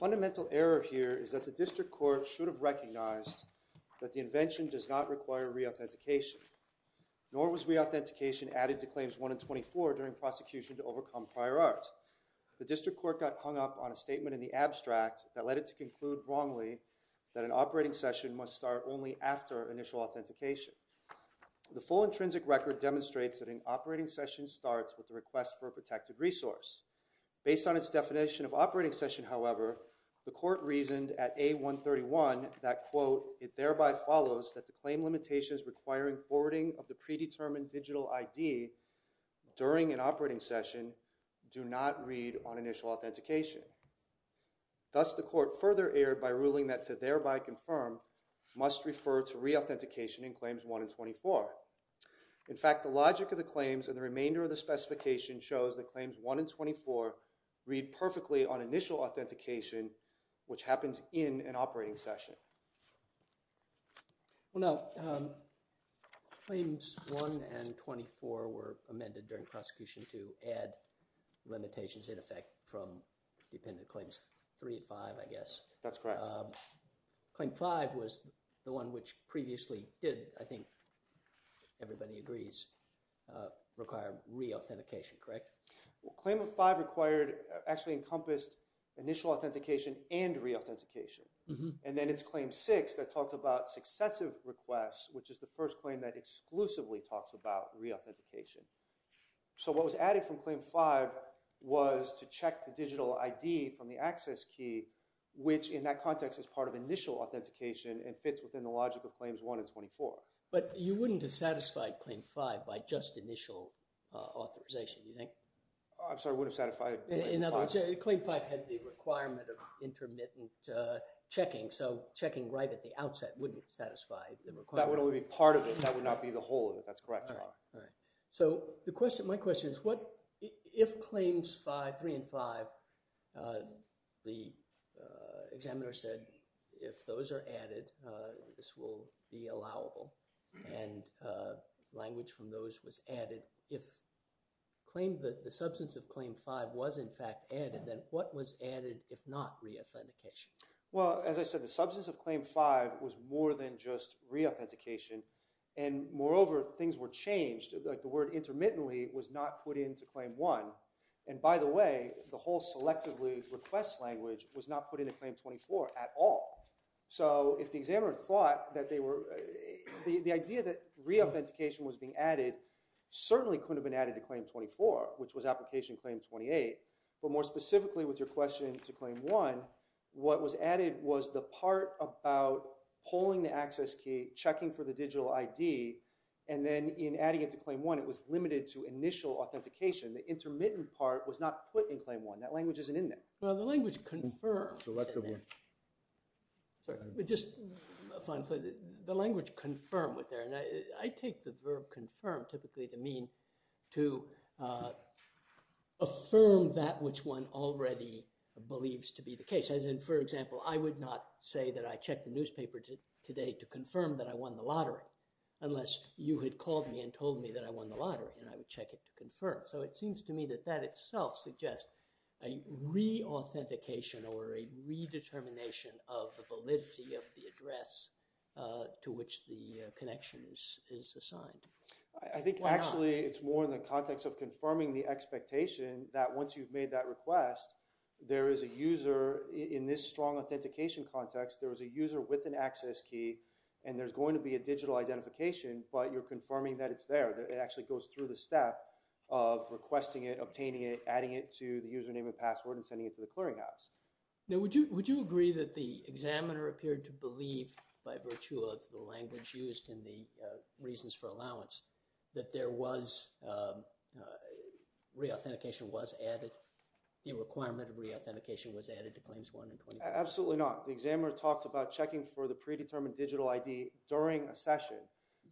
Fundamental error here is that the District Court should have recognized that the invention does not require re-authentication, nor was re-authentication added to Claims 1 and 24 during prosecution to overcome prior art. The District Court got hung up on a statement in the abstract that led it to conclude wrongly that an operating session must start only after initial authentication. The full intrinsic record demonstrates that an operating session starts with a request for a protected resource. Based on its definition of operating session, however, the Court reasoned at A131 that, quote, it thereby follows that the claim limitations requiring forwarding of the predetermined digital ID during an operating session do not read on initial authentication. Thus, the Court further erred by ruling that to thereby confirm must refer to re-authentication in Claims 1 and 24. In fact, the logic of the claims and the remainder of the specification shows that Claims 1 and 24 read perfectly on initial authentication, which happens in an operating session. Well, no. Claims 1 and 24 were amended during prosecution to add limitations in effect from dependent claims 3 and 5, I guess. That's correct. Claim 5 was the one which previously did, I think everybody agrees, require re-authentication, correct? Claim 5 required, actually encompassed initial authentication and re-authentication. And then it's Claim 6 that talks about successive requests, which is the first claim that exclusively talks about re-authentication. So what was added from Claim 5 was to check the digital ID from the access key, which in that context is part of initial authentication and fits within the logic of Claims 1 and 24. But you wouldn't have satisfied Claim 5 by just initial authorization, do you think? I'm sorry, wouldn't have satisfied Claim 5? In other words, Claim 5 had the requirement of intermittent checking. So checking right at the outset wouldn't satisfy the requirement. That would only be part of it. That would not be the whole of it. That's correct. So my question is, if Claims 3 and 5, the examiner said, if those are added, this will be allowable and language from those was added. If the substance of Claim 5 was in fact added, then what was added if not re-authentication? Well, as I said, the substance of Claim 5 was more than just re-authentication. And moreover, things were changed. The word intermittently was not put into Claim 1. And by the way, the whole selectively request language was not put into Claim 24 at all. So if the examiner thought that they were, the idea that re-authentication was being added certainly couldn't have been added to Claim 24, which was application Claim 28. But more specifically with your question to Claim 1, what was added was the part about pulling the access key, checking for the digital ID, and then in adding it to Claim 1, it was limited to initial authentication. The intermittent part was not put in Claim 1. That language isn't in there. Well, the language confirm is in there. Selectively. Sorry, just a final thought. The language confirm was there. And I take the verb confirm typically to mean to affirm that which one already believes to be the case. As in, for example, I would not say that I checked the newspaper today to confirm that I won the lottery unless you had called me and told me that I won the lottery, and I would check to confirm. So it seems to me that that itself suggests a re-authentication or a re-determination of the validity of the address to which the connection is assigned. I think actually it's more in the context of confirming the expectation that once you've made that request, there is a user in this strong authentication context, there is a user with an access key, and there's going to be a digital identification, but you're through the step of requesting it, obtaining it, adding it to the username and password, and sending it to the clearinghouse. Now, would you agree that the examiner appeared to believe, by virtue of the language used and the reasons for allowance, that there was, re-authentication was added, the requirement of re-authentication was added to Claims 1 and Claim 2? Absolutely not. The examiner talked about checking for the predetermined digital ID during a session.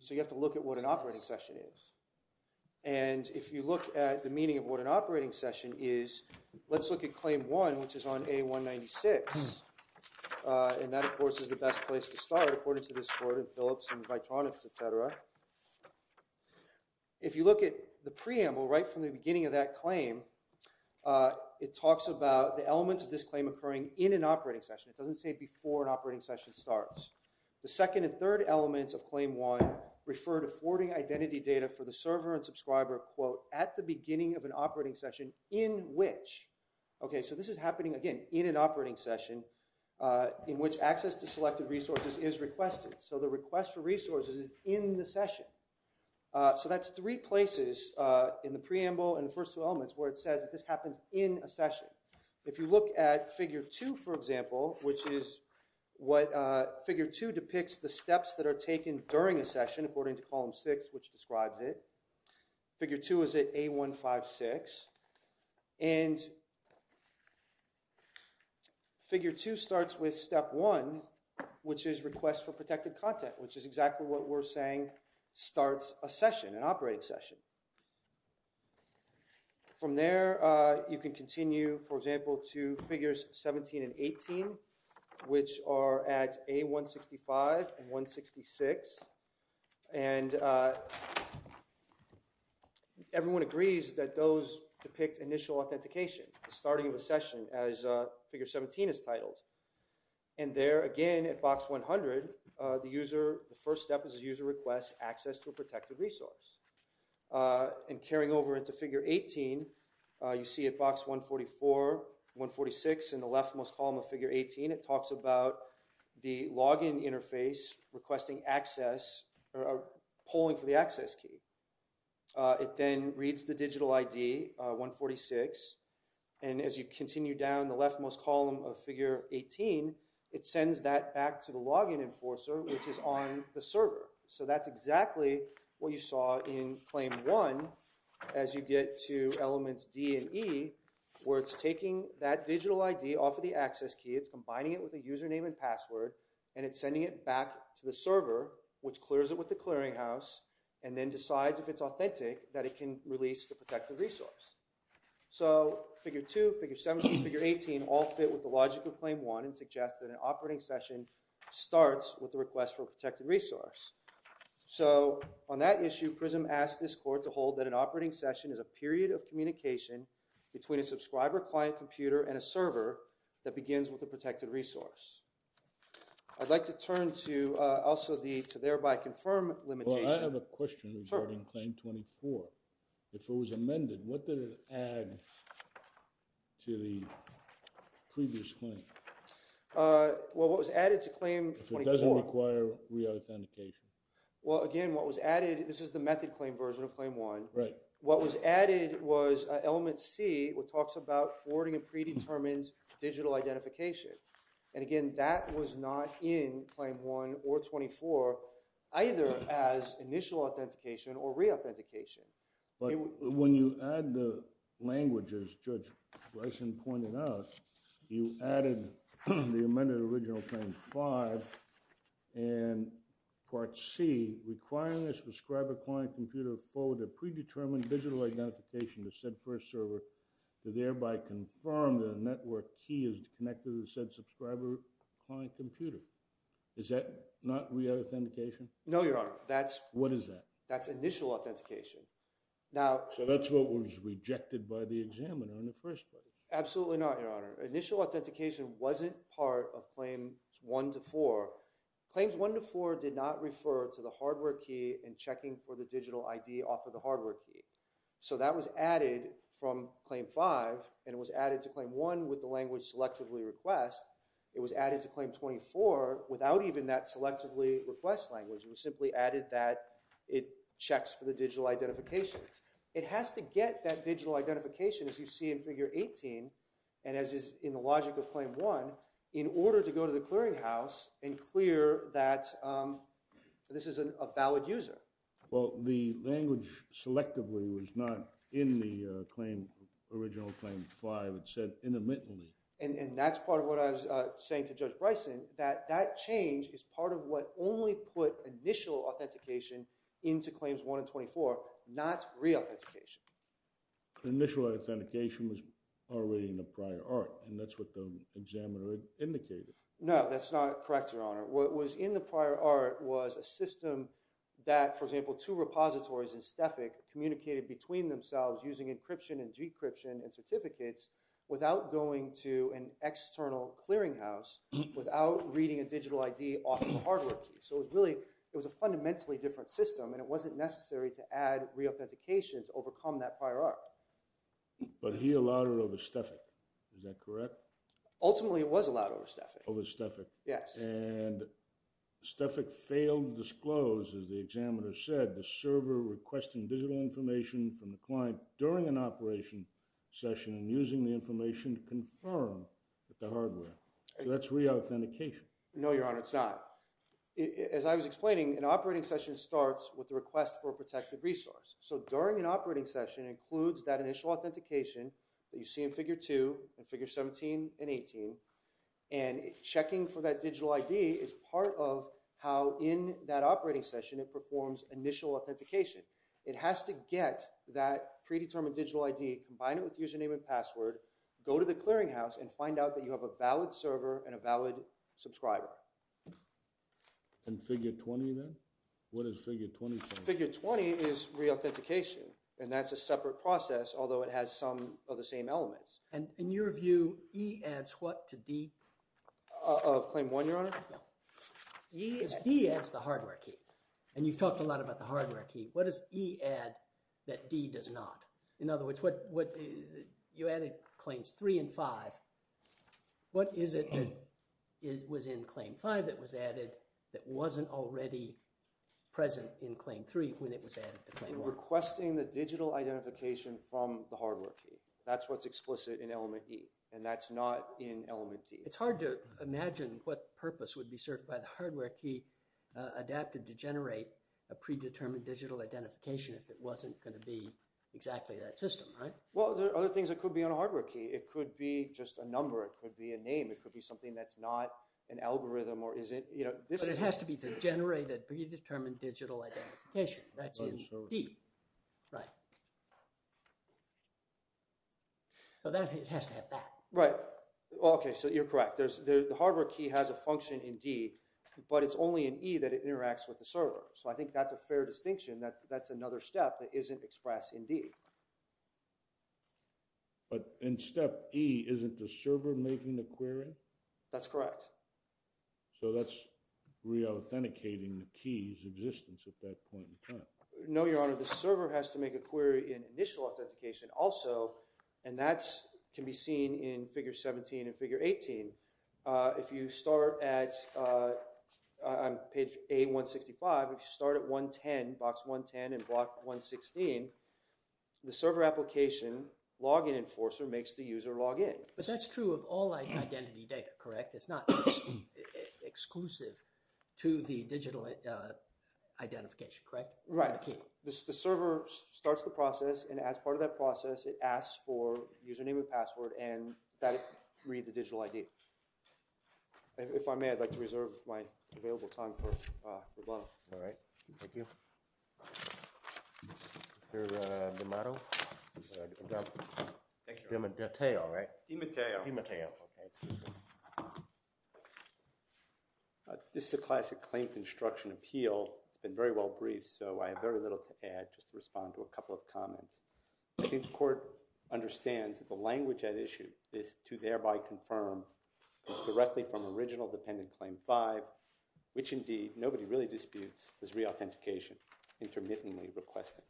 So you have to look at what an operating session is. And if you look at the meaning of what an operating session is, let's look at Claim 1, which is on A196. And that, of course, is the best place to start, according to this board of Philips and Vitronics, etc. If you look at the preamble, right from the beginning of that claim, it talks about the elements of this claim occurring in an operating session. It doesn't say before an operating session starts. The second and third elements of Claim 1 refer to forwarding identity data for the server and subscriber, quote, at the beginning of an operating session, in which. Okay, so this is happening, again, in an operating session, in which access to selected resources is requested. So the request for resources is in the session. So that's three places in the preamble and the first two elements where it says that happens in a session. If you look at Figure 2, for example, which is what, Figure 2 depicts the steps that are taken during a session, according to Column 6, which describes it. Figure 2 is at A156. And Figure 2 starts with Step 1, which is Request for Protected Content, which is exactly what we're saying starts a session, an operating session. From there, you can continue, for example, to Figures 17 and 18, which are at A165 and 166. And everyone agrees that those depict initial authentication, the starting of a session, as Figure 17 is titled. And there, again, at Box 100, the user, the first step is the user requests access to a protected resource. And carrying over into Figure 18, you see at Box 144, 146, in the leftmost column of Figure 18, it talks about the login interface requesting access, or polling for the access key. It then reads the digital ID, 146, and as you continue down the leftmost column of Figure 18, it reads the user ID. So that's exactly what you saw in Claim 1, as you get to Elements D and E, where it's taking that digital ID off of the access key, it's combining it with a username and password, and it's sending it back to the server, which clears it with the clearinghouse, and then decides, if it's authentic, that it can release the protected resource. So, Figure 2, Figure 17, Figure 18, all fit with the logic of Claim 1 and suggest that an operating session starts with the Request for a Protected Resource. So, on that issue, PRISM asked this court to hold that an operating session is a period of communication between a subscriber-client computer and a server that begins with a protected resource. I'd like to turn to, also, the, to thereby confirm limitation. Well, I have a question regarding Claim 24. If it was amended, what did it add to the previous claim? Well, what was added to Claim 24... If it doesn't require re-authentication. Well, again, what was added, this is the method claim version of Claim 1. Right. What was added was Element C, which talks about forwarding a predetermined digital identification. And again, that was not in Claim 1 or 24, either as initial authentication or re-authentication. But when you add the language, as Judge Bryson pointed out, you added the amended original Claim 5 and Part C, requiring a subscriber-client computer to forward a predetermined digital identification to said first server to thereby confirm that a network key is connected to said subscriber-client computer. Is that not re-authentication? No, Your Honor. That's... What is that? That's initial authentication. Now... So that's what was rejected by the examiner in the first place. Absolutely not, Your Honor. Initial authentication wasn't part of Claims 1 to 4. Claims 1 to 4 did not refer to the hardware key and checking for the digital ID off of the hardware key. So that was added from Claim 5, and it was added to Claim 1 with the language Selectively Request. It was added to Claim 24 without even that Selectively Request language. It was simply added that it checks for the digital identification. It has to get that digital identification, as you see in Figure 18, and as is in the logic of Claim 1, in order to go to the clearinghouse and clear that this is a valid user. Well, the language Selectively was not in the original Claim 5. It said intermittently. And that's part of what I was saying to Judge Bryson, that that change is part of what only put initial authentication into Claims 1 and 24, not re-authentication. Initial authentication was already in the prior art, and that's what the examiner indicated. No, that's not correct, Your Honor. What was in the prior art was a system that, for example, two repositories in STEFIC communicated between themselves using encryption and decryption and certificates without going to an external clearinghouse, without reading a digital ID off of a hardware key. So it was really, it was a fundamentally different system, and it wasn't necessary to add re-authentication to overcome that prior art. But he allowed it over STEFIC. Is that correct? Ultimately, it was allowed over STEFIC. Over STEFIC. Yes. And STEFIC failed to disclose, as the examiner said, the server requesting digital information from the client during an operation session and using the information to confirm with the hardware. So that's re-authentication. No, Your Honor, it's not. As I was explaining, an operating session starts with a request for a protected resource. So during an operating session includes that initial authentication that you see in Figure 2 and Figure 17 and 18, and checking for that digital ID is part of how in that operating session it performs initial authentication. It has to get that predetermined digital ID, combine it with and find out that you have a valid server and a valid subscriber. And Figure 20 then? What does Figure 20 say? Figure 20 is re-authentication, and that's a separate process, although it has some of the same elements. And in your view, E adds what to D? Claim 1, Your Honor? E is... D adds the hardware key. And you've talked a lot about the hardware key. What does E add that D does not? In other words, you added Claims 3 and 5. What is it that was in Claim 5 that was added that wasn't already present in Claim 3 when it was added to Claim 1? Requesting the digital identification from the hardware key. That's what's explicit in Element E, and that's not in Element D. It's hard to imagine what purpose would be served by the hardware key adapted to generate a predetermined digital identification if it wasn't going to be exactly that system, right? Well, there are other things that could be on a hardware key. It could be just a number. It could be a name. It could be something that's not an algorithm. But it has to be to generate a predetermined digital identification. That's in D. Right. So it has to have that. Right. Okay, so you're correct. The hardware key has a function in D, but it's only in E that it interacts with the server. So I think that's a fair distinction. That's another step that isn't expressed in D. But in Step E, isn't the server making the query? That's correct. So that's re-authenticating the key's existence at that point in time. No, Your Honor. The server has to make a query in initial authentication also, and that can be seen in Figure 17 and Figure 18. If you start at on page A-165, if you start at Box 110 and Block 116, the server application login enforcer makes the user log in. But that's true of all identity data, correct? It's not exclusive to the digital identification, correct? Right. The server starts the process, and as part of that process it asks for username and password and that reads the digital ID. If I may, I'd like to reserve my available time for rebuttal. All right. Thank you. Mr. D'Amato? D'Amateo, right? D'Amateo. This is a classic claim construction appeal. It's been very well briefed, so I have very little to add, just to respond to a couple of comments. I think the Court understands that the language at issue is to thereby confirm directly from original all-dependent claim 5, which indeed, nobody really disputes is re-authentication, intermittently requesting.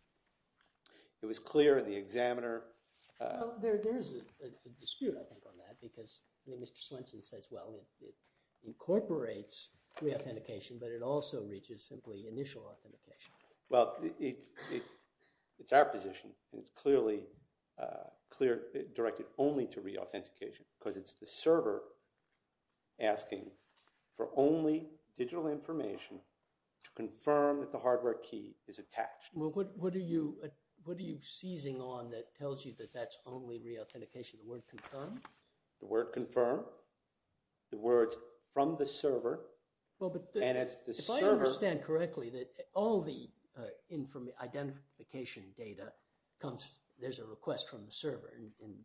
It was clear in the examiner There's a dispute, I think, on that, because Mr. Slinson says, well, it incorporates re-authentication, but it also reaches simply initial authentication. Well, it's our position, and it's clearly directed only to re-authentication, because it's the only digital information to confirm that the hardware key is attached. What are you seizing on that tells you that that's only re-authentication? The word confirm? The word confirm. The word's from the server. If I understand correctly, all the identification data comes, there's a request from the server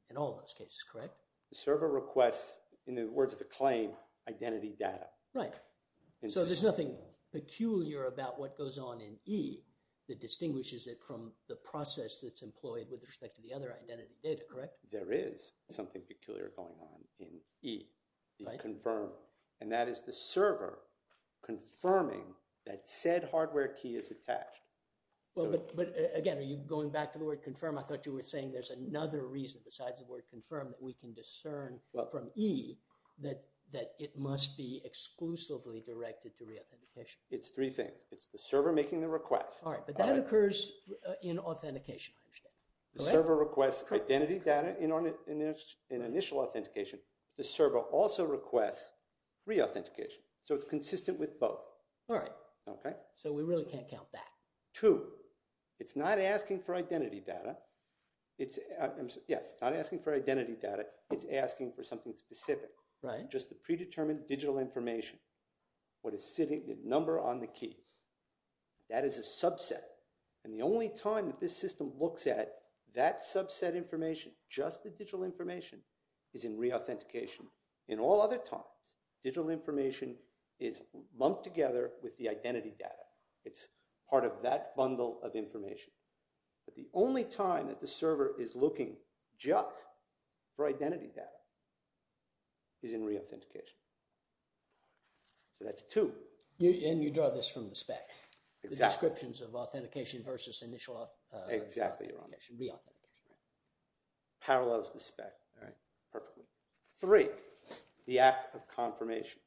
in all those cases, correct? The server requests, in the words of the claim, identity data. Right. So there's nothing peculiar about what goes on in E that distinguishes it from the process that's employed with respect to the other identity data, correct? There is something peculiar going on in E. And that is the server confirming that said hardware key is attached. But again, are you going back to the word confirm? I thought you were saying there's another reason besides the word confirm that we can discern from E that it must be exclusively directed to re-authentication. It's three things. It's the server making the request. Alright, but that occurs in authentication, I understand. The server requests identity data in initial authentication. The server also requests re-authentication. So it's consistent with both. Alright. So we really can't count that. Two, it's not asking for identity data. Yes, it's not asking for identity data. It's asking for something specific. Right. Just the predetermined digital information. What is sitting, the number on the keys. That is a subset. And the only time that this system looks at that subset information, just the digital information is in re-authentication. In all other times, digital information is lumped together with the identity data. It's part of that bundle of information. But the only time that the server is looking just for identity data is in re-authentication. So that's two. And you draw this from the spec. Exactly. The descriptions of authentication versus initial authentication. Re-authentication. Parallels the spec. Three, the act of confirmation.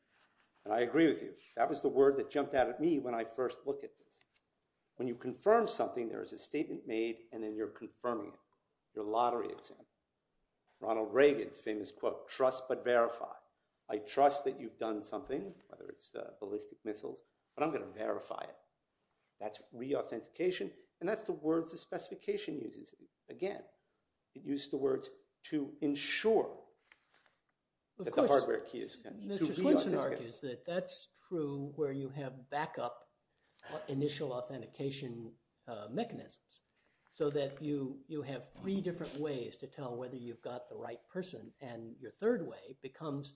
And I agree with you. That was the word that jumped out at me when I first looked at this. When you confirm something, there is a statement made and then you're confirming it. Your lottery example. Ronald Reagan's famous quote, trust but verify. I trust that you've done something, whether it's ballistic missiles, but I'm going to verify it. That's re-authentication and that's the words the specification uses. Again, it uses the words to ensure that the hardware key is connected. Mr. Swenson argues that that's true where you have backup initial authentication mechanisms so that you have three different ways to tell whether you've got the right person and your third way becomes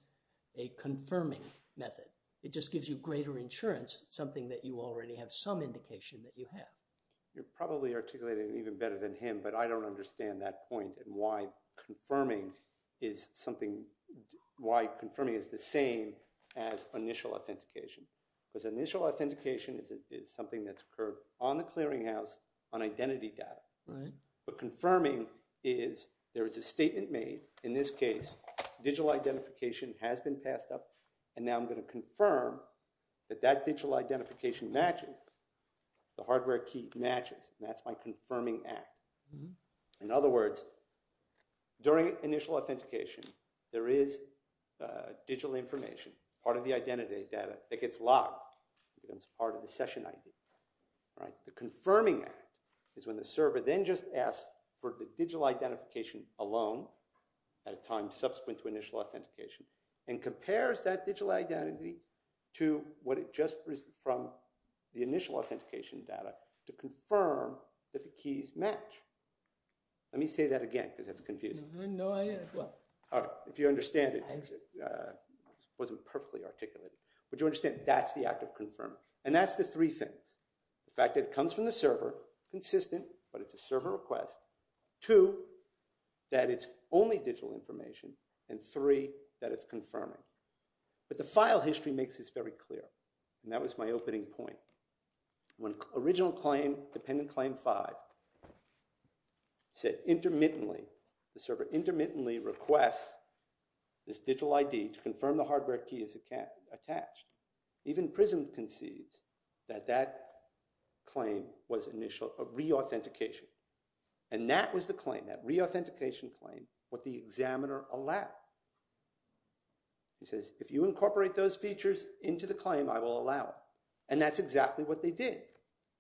a confirming method. It just gives you greater insurance, something that you already have some indication that you have. You're probably articulating it even better than him but I don't understand that point and why confirming is something, why confirming is the same as initial authentication because initial authentication is something that's occurred on the clearinghouse on identity data but confirming is there is a statement made in this case, digital identification has been passed up and now I'm going to confirm that that digital identification matches the hardware key matches and that's my confirming act. In other words, during initial authentication there is digital information, part of the identity data that gets logged, becomes part of the session ID. The confirming act is when the server then just asks for the digital identification alone at a time subsequent to initial authentication and compares that digital identity to what it just received from the initial authentication data to confirm that the keys match. Let me say that again because that's confusing. If you understand it that's the act of confirming and that's the three things. The fact that it comes from the server consistent but it's a server request. Two, that it's only digital information and three, that it's confirming. But the file history makes this very clear and that was my opening point. Original claim, dependent claim five said intermittently, the server intermittently requests this digital ID to confirm the hardware key is attached. Even Prism concedes that that claim was initial re-authentication and that was the claim, that re-authentication claim, what the examiner allowed. He says, if you incorporate those features into the claim, I will allow it and that's exactly what they did.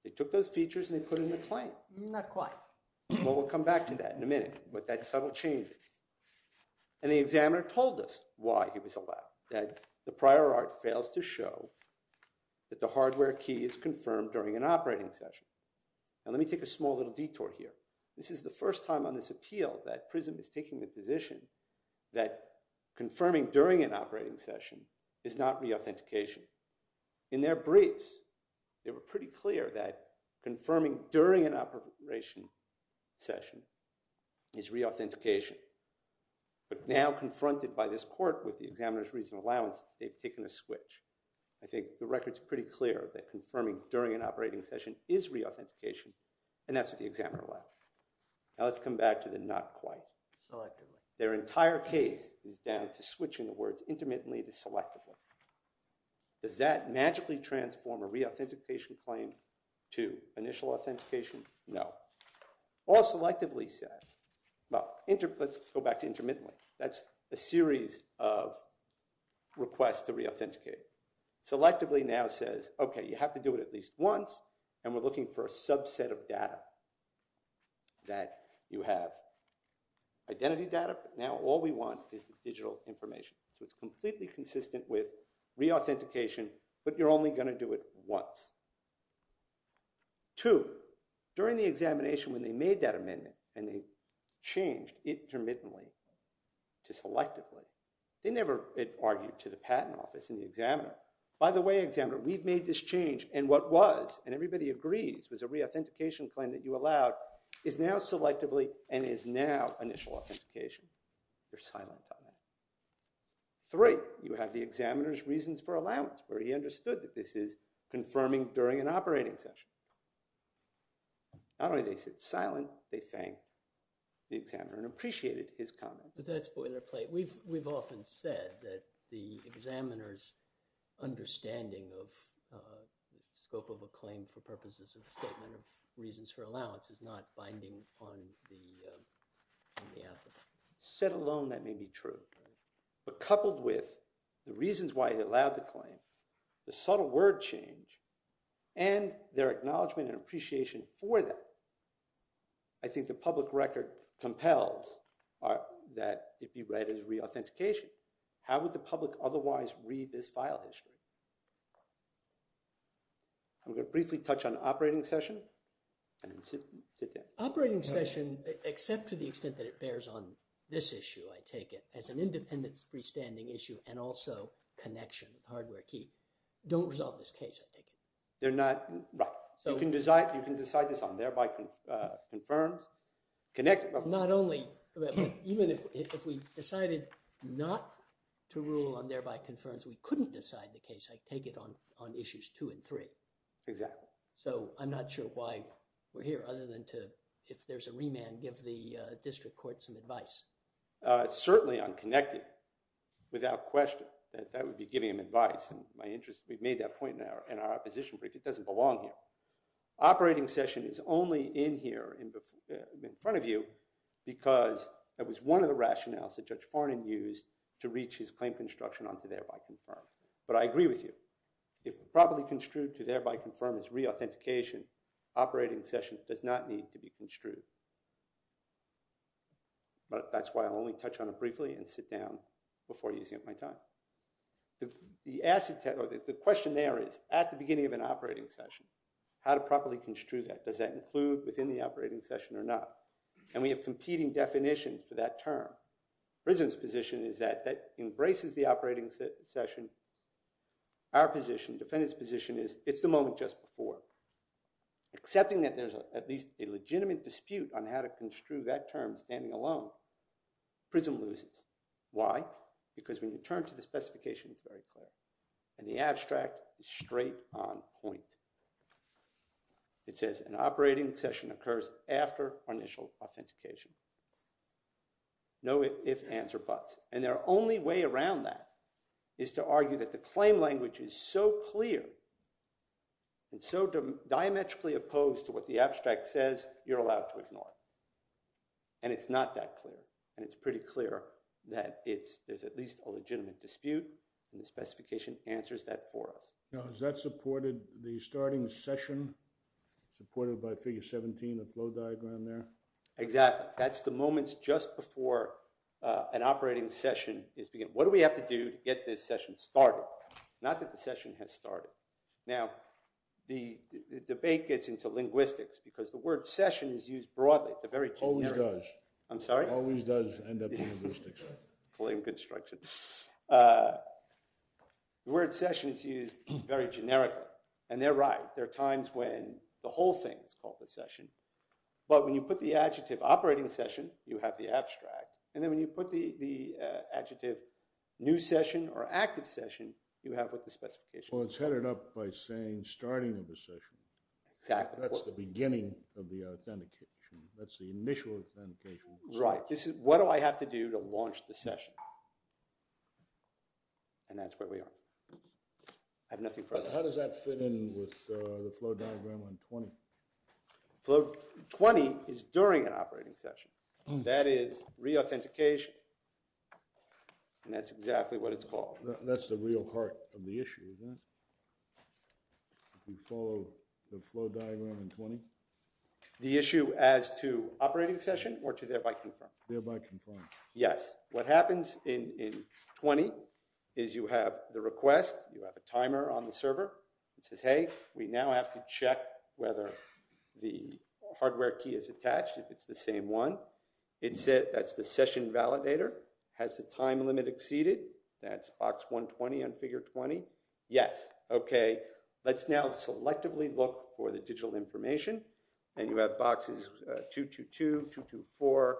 They took those features and they put in the claim. Not quite. We'll come back to that in a minute but that subtle change and the examiner told us why he was allowed. The prior art fails to show that the hardware key is confirmed during an operating session. Now let me take a small little detour here. This is the first time on this appeal that Prism is taking the position that confirming during an operating session is not re-authentication. In their briefs they were pretty clear that during an operating session is re-authentication but now confronted by this court with the examiner's reason of allowance, they've taken a switch. I think the record's pretty clear that confirming during an operating session is re-authentication and that's what the examiner allowed. Now let's come back to the not quite. Their entire case is down to switching the words intermittently to selectively. Does that magically transform a re-authentication claim to initial authentication? No. All selectively says well, let's go back to intermittently that's a series of requests to re-authenticate. Selectively now says okay, you have to do it at least once and we're looking for a subset of data that you have identity data but now all we want is digital information. So it's completely consistent with re-authentication but you're only going to do it once. Two, during the examination when they made that amendment and they changed intermittently to selectively, they never argued to the patent office and the examiner. By the way examiner we've made this change and what was and everybody agrees was a re-authentication claim that you allowed is now selectively and is now initial authentication. You're silent on that. Three, you have the examiner's reasons for allowance where he understood that this is not only they said silent, they thanked the examiner and appreciated his comments. But that's boilerplate. We've often said that the examiner's understanding of scope of a claim for purposes of a statement of reasons for allowance is not binding on the applicant. Set alone that may be true but coupled with the reasons why he allowed the claim the subtle word change and their acknowledgement and appreciation for that I think the public record compels that it be read as re-authentication. How would the public otherwise read this file history? I'm going to briefly touch on operating session Operating session except to the extent that it bears on this issue I take it as an independence freestanding issue and also connection hardware key Don't resolve this case I take it. You can decide this on there by confirms Not only even if we decided not to rule on there by confirms we couldn't decide the case I take it on issues two and three. So I'm not sure why we're here other than to if there's a remand give the district court some advice. Certainly I'm connected without question that would be giving him advice we've made that point in our opposition brief it doesn't belong here. Operating session is only in here in front of you because that was one of the rationales that Judge Farnon used to reach his claim construction on to there by confirms but I agree with you if properly construed to there by confirms re-authentication operating session does not need to be construed but that's why I'll only touch on it briefly and sit down before using up my time The question there is at the beginning of an operating session how to properly construe that does that include within the operating session or not and we have competing definitions for that term prison's position is that embraces the operating session our position defendant's position is it's the moment just before accepting that there's at least a legitimate dispute on how to construe that term standing alone prison loses why? because when you turn to the specification it's very clear and the abstract is straight on point it says an operating session occurs after initial authentication no if ands or buts and their only way around that is to argue that the claim language is so clear and so diametrically opposed to what the abstract says you're allowed to ignore and it's not that clear and it's pretty clear that there's at least a legitimate dispute and the specification answers that for us. Now is that supported the starting session supported by figure 17 the flow diagram there? Exactly that's the moments just before an operating session is what do we have to do to get this session started not that the session has started now the debate gets into linguistics because the word session is used broadly always does always does end up in linguistics plain construction the word session is used very generically and they're right there are times when the whole thing is called the session but when you put the adjective operating session you have the abstract and then when you put the adjective new session or active session you have what the specification is well it's headed up by saying starting of the session that's the beginning of the authentication that's the initial authentication right, what do I have to do to launch the session and that's where we are I have nothing further how does that fit in with the flow diagram on 20 flow 20 is during an operating session that is re-authentication and that's exactly what it's called that's the real heart of the issue isn't it if you follow the flow diagram in 20 the issue as to operating session or to thereby confirm yes, what happens in 20 is you have the request, you have a timer on the server it says hey, we now have to check whether the hardware key is attached if it's the same one that's the session validator has the time limit exceeded that's box 120 on figure 20 yes, ok, let's now selectively look for the digital information and you have boxes 222, 224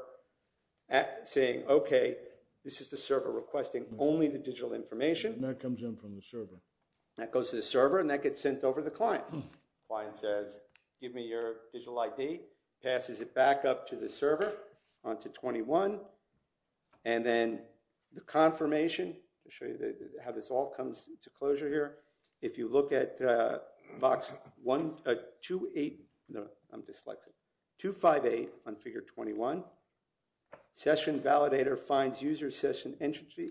saying ok, this is the server requesting only the digital information that comes in from the server that goes to the server and that gets sent over the client client says give me your digital ID, passes it back up to the server onto 21 and then the confirmation to show you how this all comes to closure here, if you look at box 28, no, I'm dyslexic 258 on figure 21 session validator finds user session entry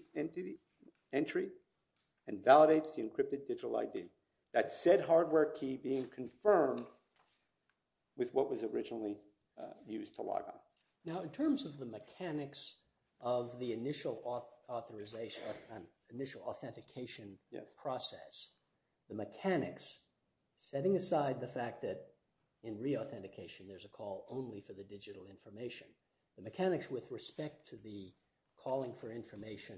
and validates the encrypted digital ID, that said hardware key being confirmed with what was originally used to log on. Now in terms of the mechanics of the initial authentication process, the mechanics setting aside the fact that in re-authentication there's a call only for the digital information the mechanics with respect to the calling for information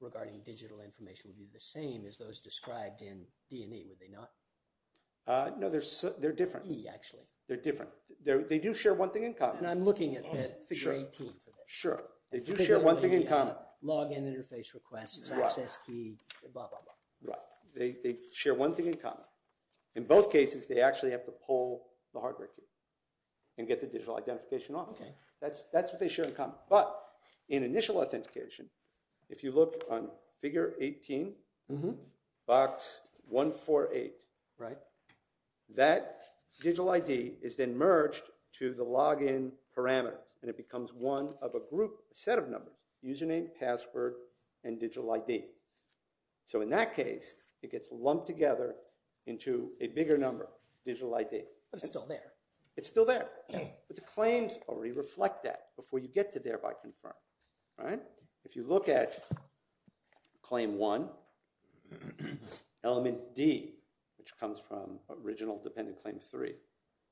regarding digital information would be the same as those described in D&E, would they not? No, they're different, they're different they do share one thing in common sure sure, they do share one thing in common login interface request, access key blah blah blah they share one thing in common in both cases they actually have to pull the hardware key and get the digital identification off that's what they share in common, but in initial authentication, if you look on figure 18 box 148 right that digital ID is then merged to the login parameters and it becomes one of a group, a set of numbers, username password and digital ID so in that case it gets lumped together into a bigger number, digital ID but it's still there but the claims already reflect that before you get to thereby confirm if you look at claim 1 element D which comes from original dependent claim 3,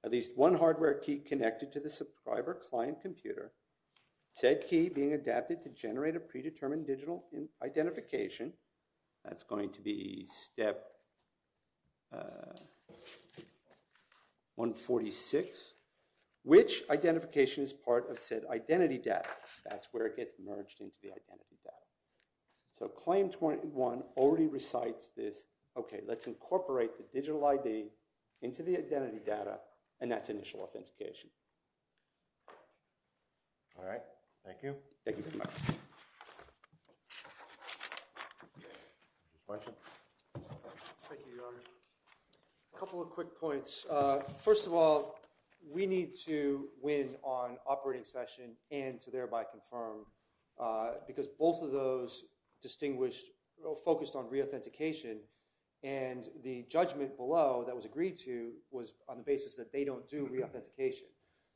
at least one hardware key connected to the subscriber client computer said key being adapted to generate a predetermined digital identification that's going to be step 146 which identification is part of said identity data, that's where it gets merged into the identity data so claim 21 already recites this, okay let's incorporate the digital ID into the identity data and that's initial authentication alright thank you question a couple of quick points first of all we need to win on operating session and to thereby confirm because both of those distinguished focused on re-authentication and the judgment below that was agreed to was on the basis that they don't do re-authentication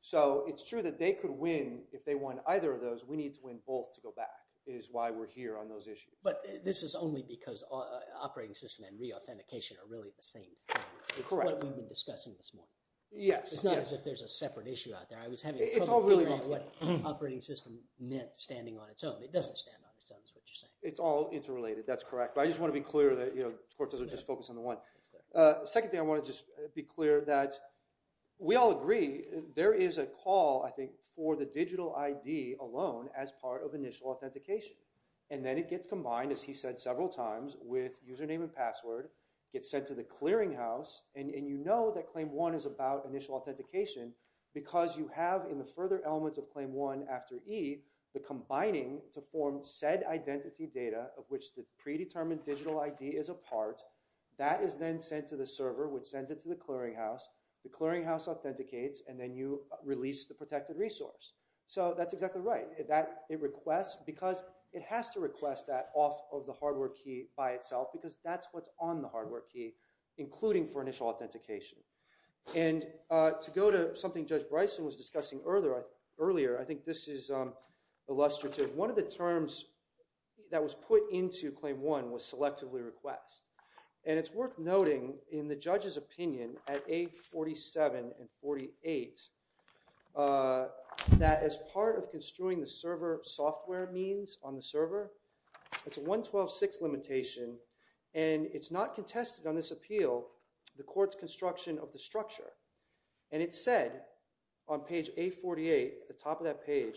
so it's true that they could win if they won either of those, we need to win both to go back, is why we're here on those issues. But this is only because operating system and re-authentication are really the same thing what we've been discussing this morning it's not as if there's a separate issue out there I was having trouble figuring out what operating system meant standing on its own it doesn't stand on its own is what you're saying it's all interrelated, that's correct I just want to be clear that the court doesn't just focus on the one second thing I want to just be clear that we all agree there is a call I think for the digital ID alone as part of initial authentication and then it gets combined as he said several times with username and password gets sent to the clearinghouse and you know that claim one is about initial authentication because you have in the further elements of claim one after E the combining to form said identity data of which the predetermined digital ID is a part, that is then sent to the server which sends it to the clearinghouse the clearinghouse authenticates and then you release the protected resource so that's exactly right that it requests because it has to request that off of the hardware key by itself because that's what's on the hardware key including for initial authentication and to go to something Judge Bryson was discussing earlier I think this is illustrative one of the terms that was put into claim one was selectively request and it's worth noting in the judge's opinion at A47 and 48 that as part of construing the server software means on the server it's a 112.6 limitation and it's not contested on this appeal the court's construction of the structure and it said on that page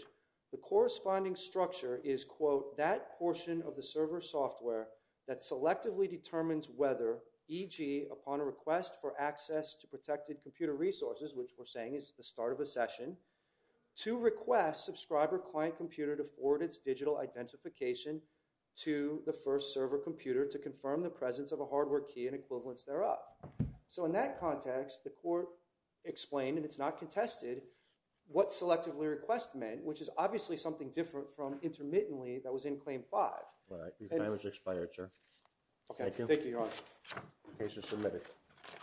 the corresponding structure is quote that portion of the server software that selectively determines whether EG upon a request for access to protected computer resources which we're saying is the start of a session to request subscriber client computer to forward its digital identification to the first server computer to confirm the presence of a hardware key and equivalents there up so in that context the court explained and it's not contested what selectively request meant which is obviously something different from intermittently that was in claim five your time has expired sir thank you your honor case is submitted